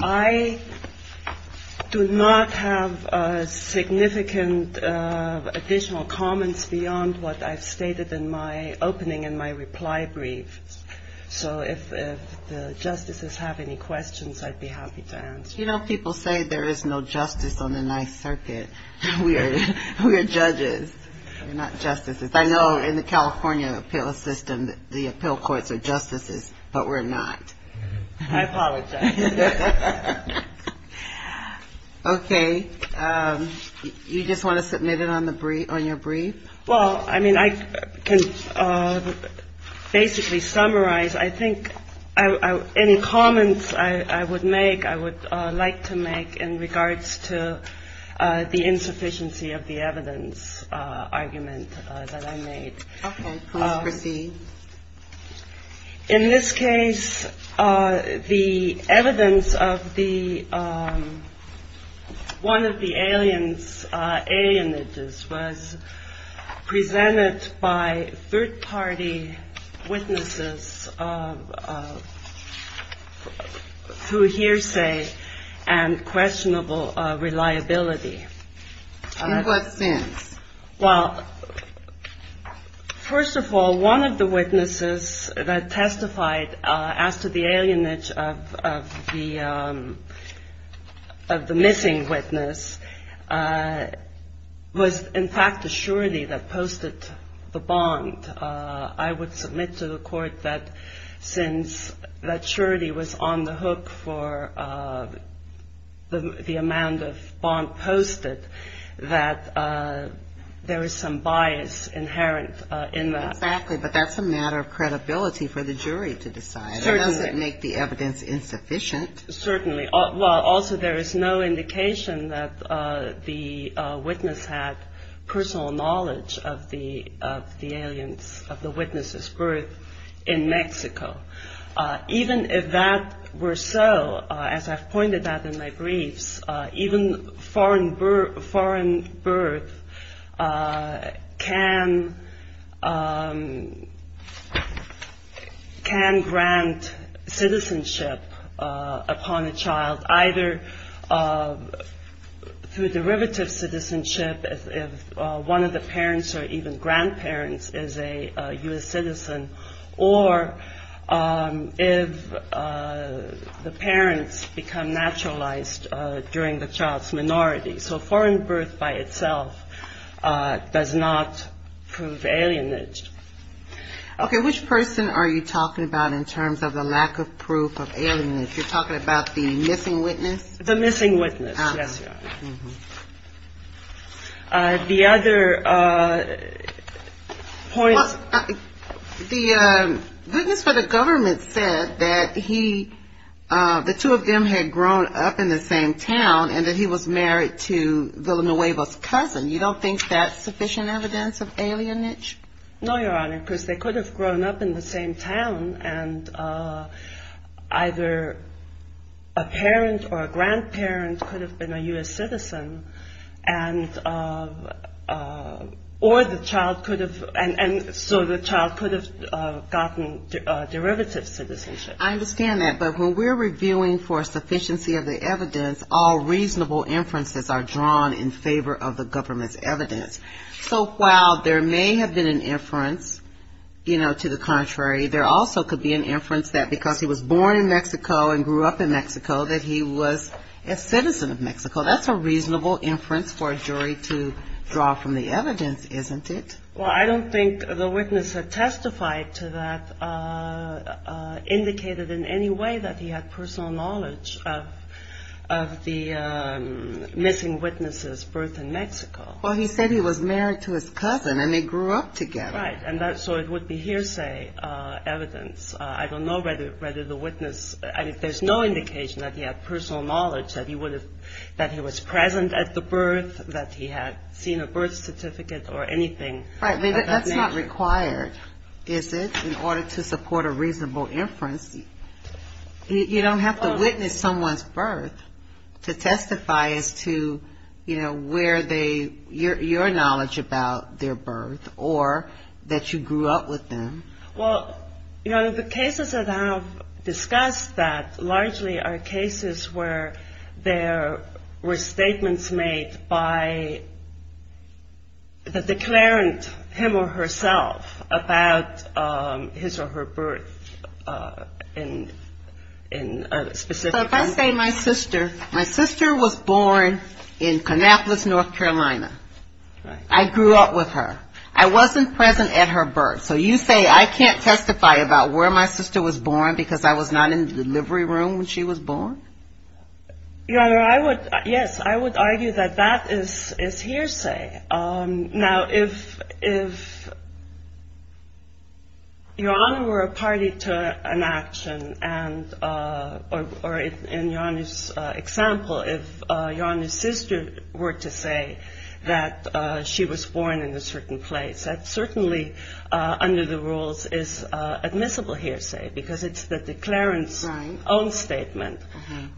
I do not have significant additional comments beyond what I've stated in my opening and my reply brief. So if the justices have any questions, I'd be happy to answer. You know, people say there is no justice on the Ninth Circuit. We are judges, not justices. I know in the California appeal system, the appeal courts are justices, but we're not. I apologize. Okay. You just want to submit it on your brief? Well, I mean, I can basically summarize. I think any comments I would make, I would like to make in regards to the insufficiency of the evidence argument that I made. Okay. Proceed. In this case, the evidence of the one of the aliens, alien images was presented by third party witnesses who hearsay and questionable reliability. In what sense? Well, first of all, one of the witnesses that testified as to the alienage of the missing witness was, in fact, a surety that posted the bond. I would submit to the court that since that surety was on the hook for the amount of bond posted, that there is some bias inherent in that. Exactly. But that's a matter of credibility for the jury to decide. Certainly. It doesn't make the evidence insufficient. Certainly. Also, there is no indication that the witness had personal knowledge of the witness's birth in Mexico. Even if that were so, as I've pointed out in my briefs, even foreign birth can grant citizenship upon a child either through derivative citizenship if one of the parents or even grandparents is a U.S. citizen or if the parents become naturalized during the child's minority. So foreign birth by itself does not prove alienage. Okay. Which person are you talking about in terms of the lack of proof of alienage? You're talking about the missing witness? The missing witness. Yes, Your Honor. The other point... The witness for the government said that the two of them had grown up in the same town and that he was married to Villanueva's cousin. You don't think that's sufficient evidence of alienage? No, Your Honor, because they could have grown up in the same town, and either a parent or a grandparent could have been a U.S. citizen, and so the child could have gotten derivative citizenship. I understand that, but when we're reviewing for sufficiency of the evidence, all reasonable inferences are drawn in favor of the government's evidence. So while there may have been an inference, you know, to the contrary, there also could be an inference that because he was born in Mexico and grew up in Mexico, that he was a citizen of Mexico. That's a reasonable inference for a jury to draw from the evidence, isn't it? Well, I don't think the witness had testified to that, indicated in any way that he had personal knowledge of the missing witness's birth in Mexico. Well, he said he was married to his cousin and they grew up together. Right, and so it would be hearsay evidence. I don't know whether the witness, there's no indication that he had personal knowledge, that he was present at the birth, that he had seen a birth certificate or anything. Right, but that's not required, is it, in order to support a reasonable inference. You don't have to witness someone's birth to testify as to, you know, where they, your knowledge about their birth or that you grew up with them. Well, you know, the cases that have discussed that largely are cases where there were statements made by the declarant, him or herself, about his or her birth in a specific time. My sister was born in Kannapolis, North Carolina. I grew up with her. I wasn't present at her birth. So you say I can't testify about where my sister was born because I was not in the delivery room when she was born? Your Honor, I would, yes, I would argue that that is hearsay. Now, if Your Honor were a party to an action and, or in Your Honor's example, if Your Honor's sister were to say that she was born in a certain place, that certainly under the rules is admissible hearsay because it's the declarant's own statement.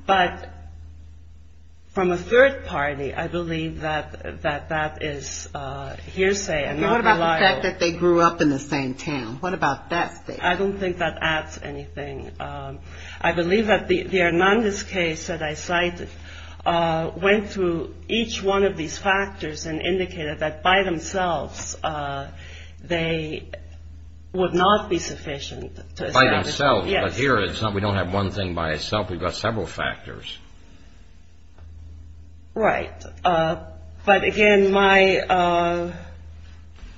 But from a third party, I believe that that is hearsay. And what about the fact that they grew up in the same town? What about that statement? I don't think that adds anything. I believe that the Hernandez case that I cited went through each one of these factors and indicated that by themselves they would not be sufficient. By themselves, but here we don't have one thing by itself. We've got several factors. Right. But again, my,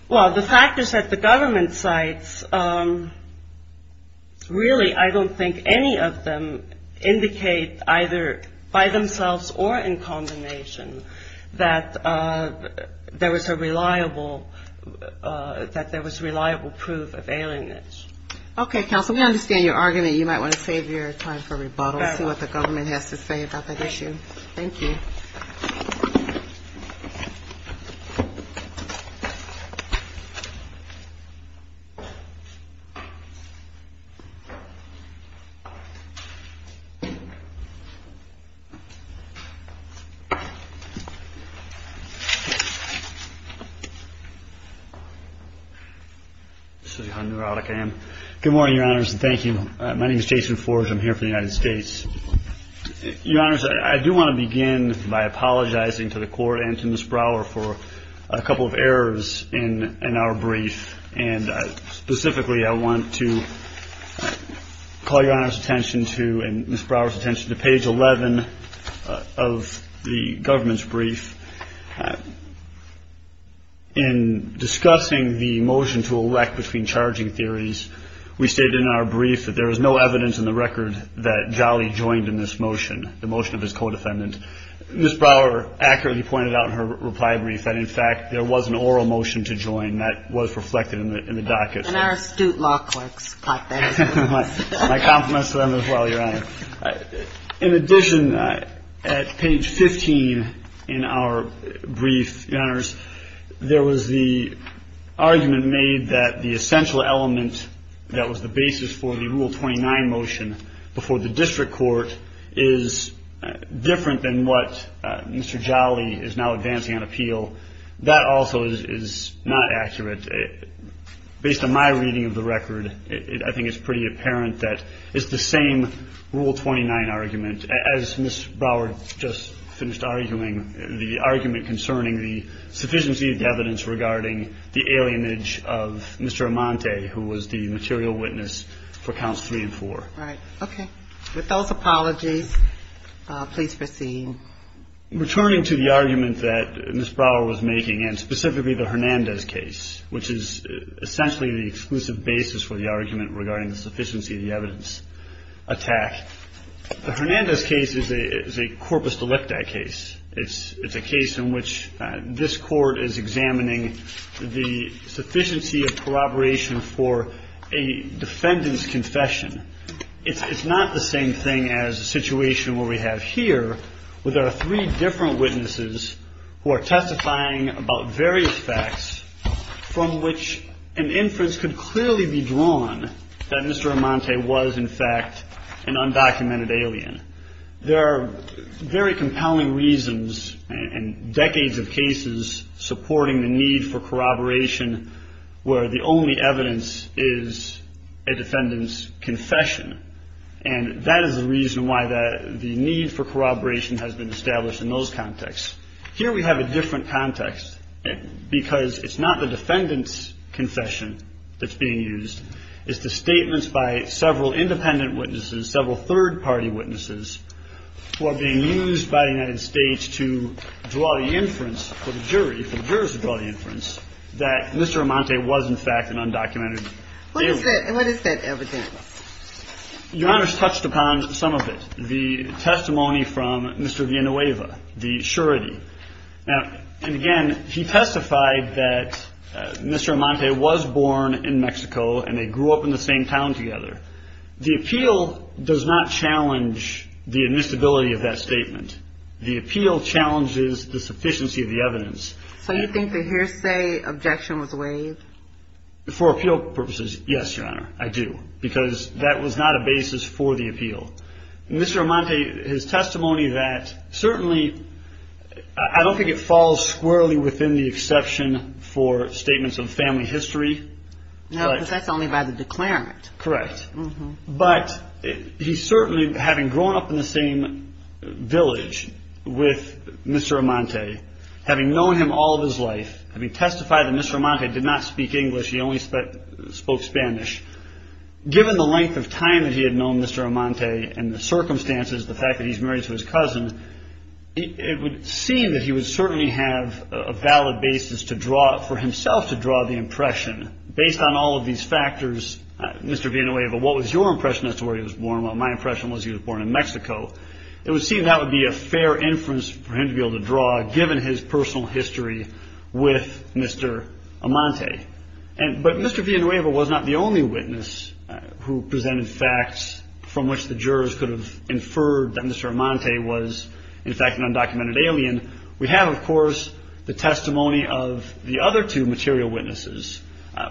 well, the factors that the government cites, really I don't think any of them indicate either by themselves or in combination that there was a reliable, that there was reliable proof of alienage. Okay, counsel, we understand your argument. You might want to save your time for rebuttal and see what the government has to say about that issue. Thank you. This is how neurotic I am. Good morning, Your Honors. Thank you. My name is Jason Forge. I'm here for the United States. Your Honors, I do want to begin by apologizing to the Court and to Ms. Brower for a couple of errors in our brief. And specifically, I want to call Your Honor's attention to and Ms. Brower's attention to page 11 of the government's brief. In discussing the motion to elect between charging theories, we stated in our brief that there is no evidence in the record that Jolly joined in this motion, the motion of his co-defendant. Ms. Brower accurately pointed out in her reply brief that, in fact, there was an oral motion to join that was reflected in the docket. And our astute law clerks caught that. My compliments to them as well, Your Honor. In addition, at page 15 in our brief, Your Honors, there was the argument made that the essential element that was the basis for the Rule 29 motion before the district court is different than what Mr. Jolly is now advancing on appeal. That also is not accurate. And based on my reading of the record, I think it's pretty apparent that it's the same Rule 29 argument, as Ms. Brower just finished arguing, the argument concerning the sufficiency of the evidence regarding the alienage of Mr. Amante, who was the material witness for Counts 3 and 4. All right. Okay. With those apologies, please proceed. Returning to the argument that Ms. Brower was making, and specifically the Hernandez case, which is essentially the exclusive basis for the argument regarding the sufficiency of the evidence attack, the Hernandez case is a corpus delicta case. It's a case in which this Court is examining the sufficiency of corroboration for a defendant's confession. It's not the same thing as the situation where we have here, where there are three different witnesses who are testifying about various facts from which an inference could clearly be drawn that Mr. Amante was, in fact, an undocumented alien. There are very compelling reasons and decades of cases supporting the need for corroboration where the only evidence is a defendant's confession. And that is the reason why the need for corroboration has been established in those contexts. Here we have a different context, because it's not the defendant's confession that's being used. It's the statements by several independent witnesses, several third-party witnesses, who are being used by the United States to draw the inference for the jury, for the jurors to draw the inference, that Mr. Amante was, in fact, an undocumented alien. What is that evidence? Your Honor's touched upon some of it. The testimony from Mr. Villanueva, the surety. Now, and again, he testified that Mr. Amante was born in Mexico and they grew up in the same town together. The appeal does not challenge the admissibility of that statement. The appeal challenges the sufficiency of the evidence. So you think the hearsay objection was waived? For appeal purposes, yes, Your Honor, I do, because that was not a basis for the appeal. Mr. Amante, his testimony that, certainly, I don't think it falls squarely within the exception for statements of family history. No, because that's only by the declarant. Correct. But he certainly, having grown up in the same village with Mr. Amante, having known him all of his life, having testified that Mr. Amante did not speak English, he only spoke Spanish, given the length of time that he had known Mr. Amante and the circumstances, the fact that he's married to his cousin, it would seem that he would certainly have a valid basis for himself to draw the impression. Based on all of these factors, Mr. Villanueva, what was your impression as to where he was born? Well, my impression was he was born in Mexico. It would seem that would be a fair inference for him to be able to draw, given his personal history with Mr. Amante. But Mr. Villanueva was not the only witness who presented facts from which the jurors could have inferred that Mr. Amante was, in fact, an undocumented alien. We have, of course, the testimony of the other two material witnesses,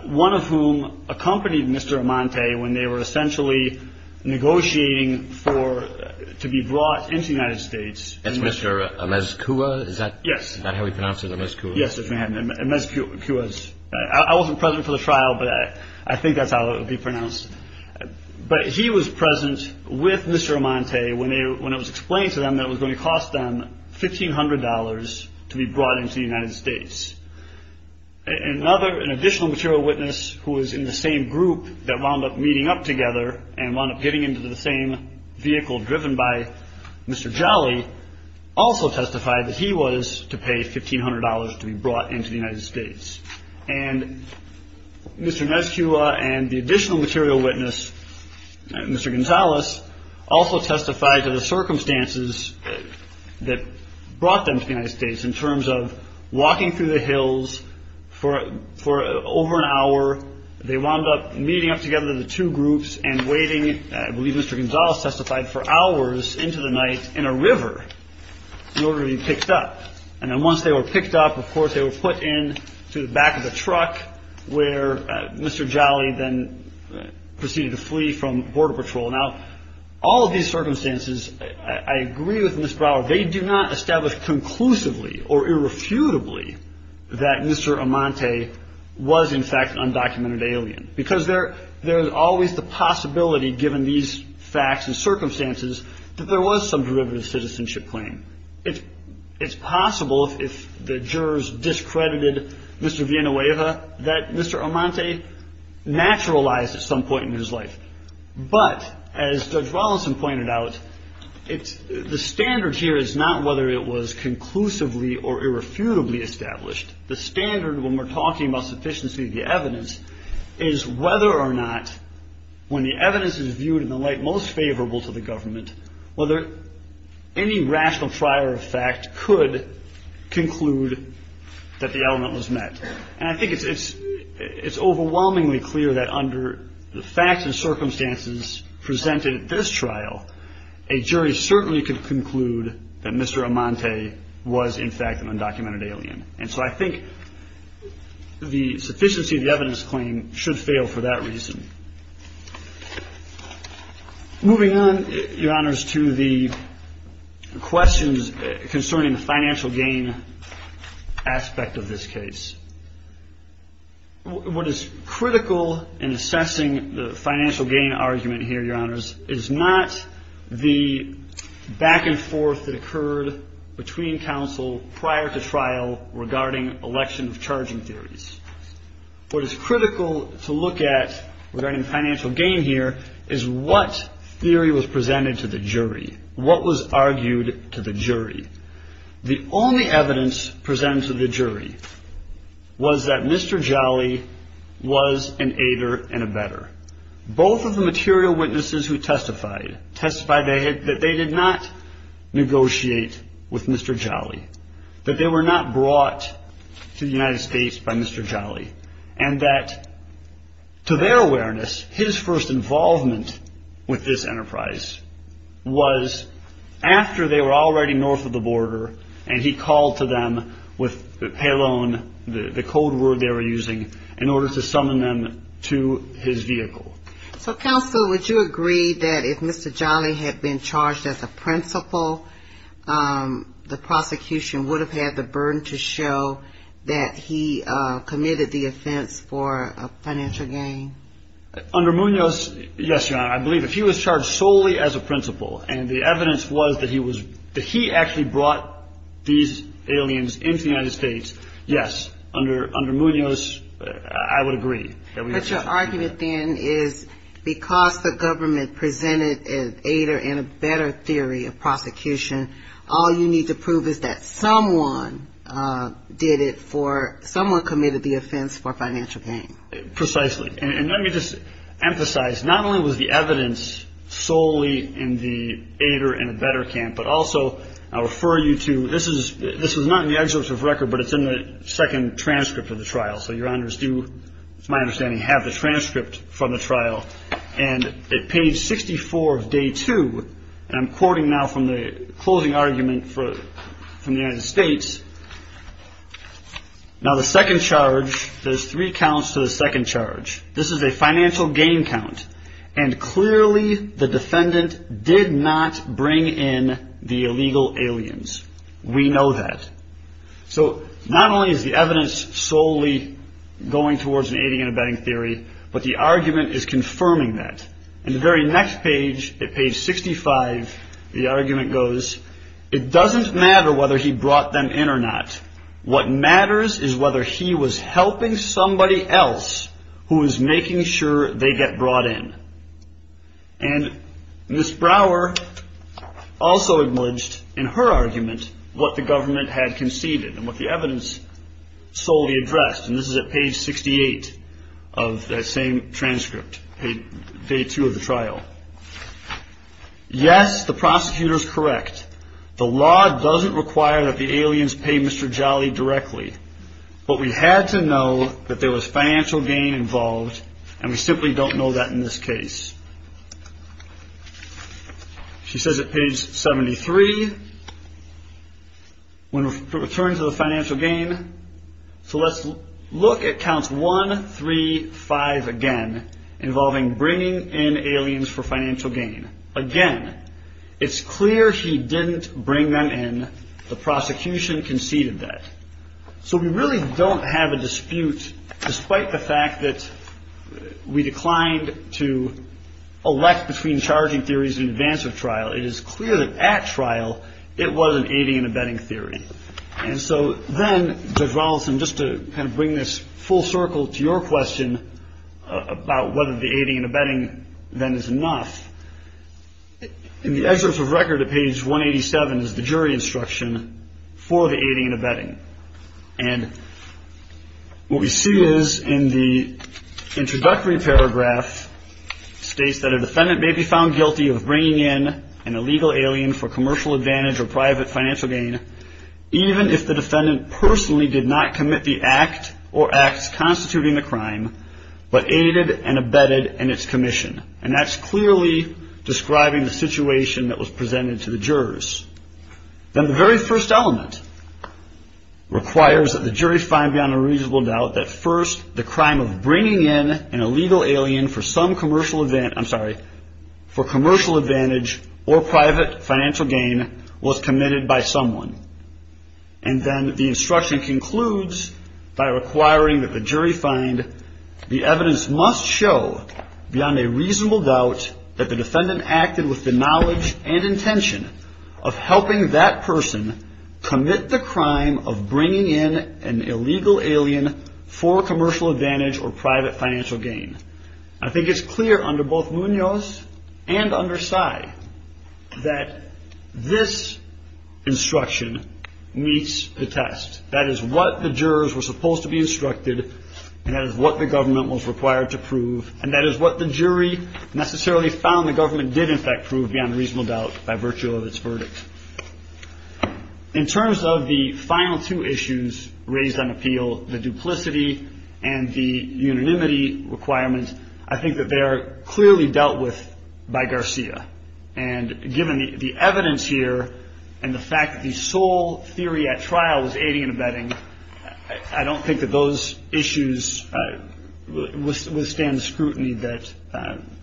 one of whom accompanied Mr. Amante when they were essentially negotiating to be brought into the United States. That's Mr. Amezcua? Yes. Is that how we pronounce it, Amezcua? Yes, it's Amezcua. I wasn't present for the trial, but I think that's how it would be pronounced. But he was present with Mr. Amante when it was explained to them that it was going to cost them $1,500 to be brought into the United States. An additional material witness who was in the same group that wound up meeting up together and wound up getting into the same vehicle driven by Mr. Jolly also testified that he was to pay $1,500 to be brought into the United States. And Mr. Amezcua and the additional material witness, Mr. Gonzalez, also testified to the circumstances that brought them to the United States in terms of walking through the hills for over an hour. They wound up meeting up together, the two groups, and waiting, I believe Mr. Gonzalez testified, for hours into the night in a river in order to be picked up. And then once they were picked up, of course, they were put into the back of a truck where Mr. Jolly then proceeded to flee from Border Patrol. Now, all of these circumstances, I agree with Ms. Brower, they do not establish conclusively or irrefutably that Mr. Amante was in fact an undocumented alien. Because there's always the possibility, given these facts and circumstances, that there was some derivative citizenship claim. It's possible, if the jurors discredited Mr. Villanueva, that Mr. Amante naturalized at some point in his life. But, as Judge Rawlinson pointed out, the standard here is not whether it was conclusively or irrefutably established. The standard, when we're talking about sufficiency of the evidence, is whether or not, when the evidence is viewed in the light most favorable to the government, whether any rational prior of fact could conclude that the element was met. And I think it's overwhelmingly clear that under the facts and circumstances presented at this trial, a jury certainly could conclude that Mr. Amante was in fact an undocumented alien. And so I think the sufficiency of the evidence claim should fail for that reason. Moving on, Your Honors, to the questions concerning the financial gain aspect of this case. What is critical in assessing the financial gain argument here, Your Honors, is not the back and forth that occurred between counsel prior to trial regarding election of charging theories. What is critical to look at regarding financial gain here is what theory was presented to the jury. What was argued to the jury? The only evidence presented to the jury was that Mr. Jolly was an aider and a better. Both of the material witnesses who testified, testified that they did not negotiate with Mr. Jolly, that they were not brought to the United States by Mr. Jolly, and that to their awareness, his first involvement with this enterprise was after they were already north of the border and he called to them with pay loan, the code word they were using, in order to summon them to his vehicle. So, counsel, would you agree that if Mr. Jolly had been charged as a principal, the prosecution would have had the burden to show that he committed the offense for a financial gain? Under Munoz, yes, Your Honor. I believe if he was charged solely as a principal and the evidence was that he was, that he actually brought these aliens into the United States, yes, under Munoz, I would agree. But your argument, then, is because the government presented an aider and a better theory of prosecution, all you need to prove is that someone did it for, someone committed the offense for financial gain. Precisely. And let me just emphasize, not only was the evidence solely in the aider and a better camp, but also, I'll refer you to, this was not in the excerpt of record, but it's in the second transcript of the trial. So, Your Honors do, it's my understanding, have the transcript from the trial. And at page 64 of day two, and I'm quoting now from the closing argument from the United States, now the second charge, there's three counts to the second charge. This is a financial gain count. And clearly, the defendant did not bring in the illegal aliens. We know that. So, not only is the evidence solely going towards an aider and a better theory, but the argument is confirming that. In the very next page, at page 65, the argument goes, it doesn't matter whether he brought them in or not. What matters is whether he was helping somebody else who was making sure they get brought in. And Ms. Brower also acknowledged in her argument what the government had conceded and what the evidence solely addressed. And this is at page 68 of that same transcript, day two of the trial. Yes, the prosecutor's correct. The law doesn't require that the aliens pay Mr. Jolly directly. But we had to know that there was financial gain involved, and we simply don't know that in this case. She says at page 73, when we return to the financial gain, so let's look at counts one, three, five again, involving bringing in aliens for financial gain. Again, it's clear he didn't bring them in. The prosecution conceded that. So we really don't have a dispute, despite the fact that we declined to elect between charging theories in advance of trial. It is clear that at trial, it was an aiding and abetting theory. And so then, Judge Rolison, just to kind of bring this full circle to your question about whether the aiding and abetting then is enough, in the excerpt of record at page 187 is the jury instruction for the aiding and abetting. And what we see is, in the introductory paragraph, states that a defendant may be found guilty of bringing in an illegal alien for commercial advantage or private financial gain, even if the defendant personally did not commit the act or acts constituting the crime, but aided and abetted in its commission. And that's clearly describing the situation that was presented to the jurors. Then the very first element requires that the jury find beyond a reasonable doubt that first, the crime of bringing in an illegal alien for some commercial advantage, I'm sorry, for commercial advantage or private financial gain was committed by someone. And then the instruction concludes by requiring that the jury find the evidence must show beyond a reasonable doubt that the defendant acted with the knowledge and intention of helping that person commit the crime of bringing in an illegal alien for commercial advantage or private financial gain. I think it's clear under both Munoz and under Sai that this instruction meets the test. That is what the jurors were supposed to be instructed and that is what the government was required to prove and that is what the jury necessarily found the government did in fact prove beyond a reasonable doubt by virtue of its verdict. In terms of the final two issues raised on appeal, the duplicity and the unanimity requirement, I think that they are clearly dealt with by Garcia. And given the evidence here and the fact that the sole theory at trial was aiding and abetting, I don't think that those issues withstand scrutiny that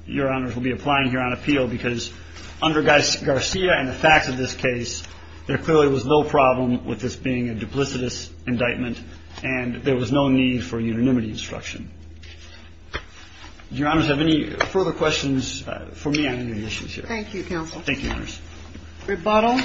Your Honors will be applying here on appeal because under Garcia and the facts of this case, there clearly was no problem with this being a duplicitous indictment and there was no need for unanimity instruction. Do Your Honors have any further questions for me on any of the issues here? Thank you, counsel. Thank you, Your Honors. Rebuttal.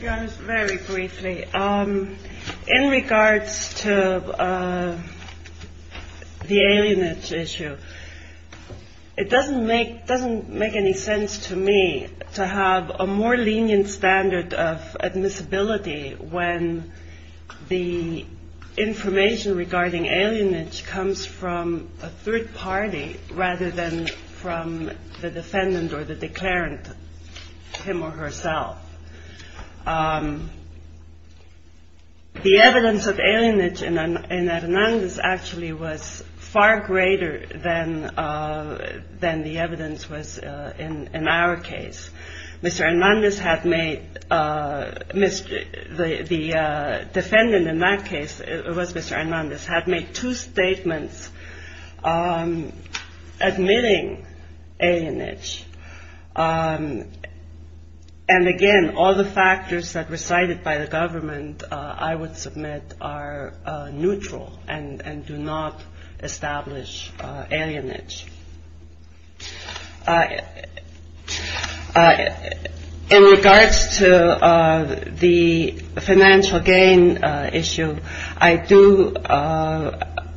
Your Honors, very briefly. In regards to the alienage issue, it doesn't make any sense to me to have a more lenient standard of admissibility when the information regarding alienage comes from a third party rather than from the defendant or the declarant, him or herself. The evidence of alienage in Hernandez actually was far greater than the evidence was in our case. Mr. Hernandez had made, the defendant in that case, it was Mr. Hernandez, had made two statements admitting alienage. And again, all the factors that were cited by the government, I would submit, are neutral and do not establish alienage. In regards to the financial gain issue, I do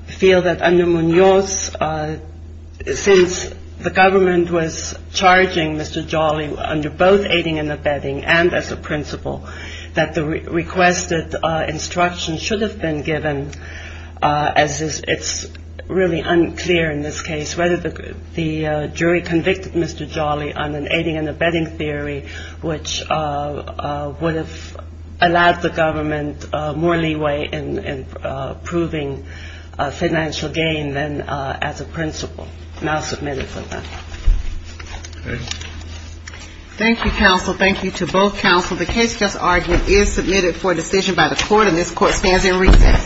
feel that under Munoz, since the government was charging Mr. Jolly under both aiding and abetting and as a principal, that the requested instruction should have been given, as it's really unclear in this case, whether the jury convicted Mr. Jolly on an aiding and abetting theory, which would have allowed the government more leeway in proving financial gain than as a principal. And I'll submit it for that. Thank you, counsel. Thank you to both counsel. The case just argued is submitted for decision by the court. And this court stands in recess.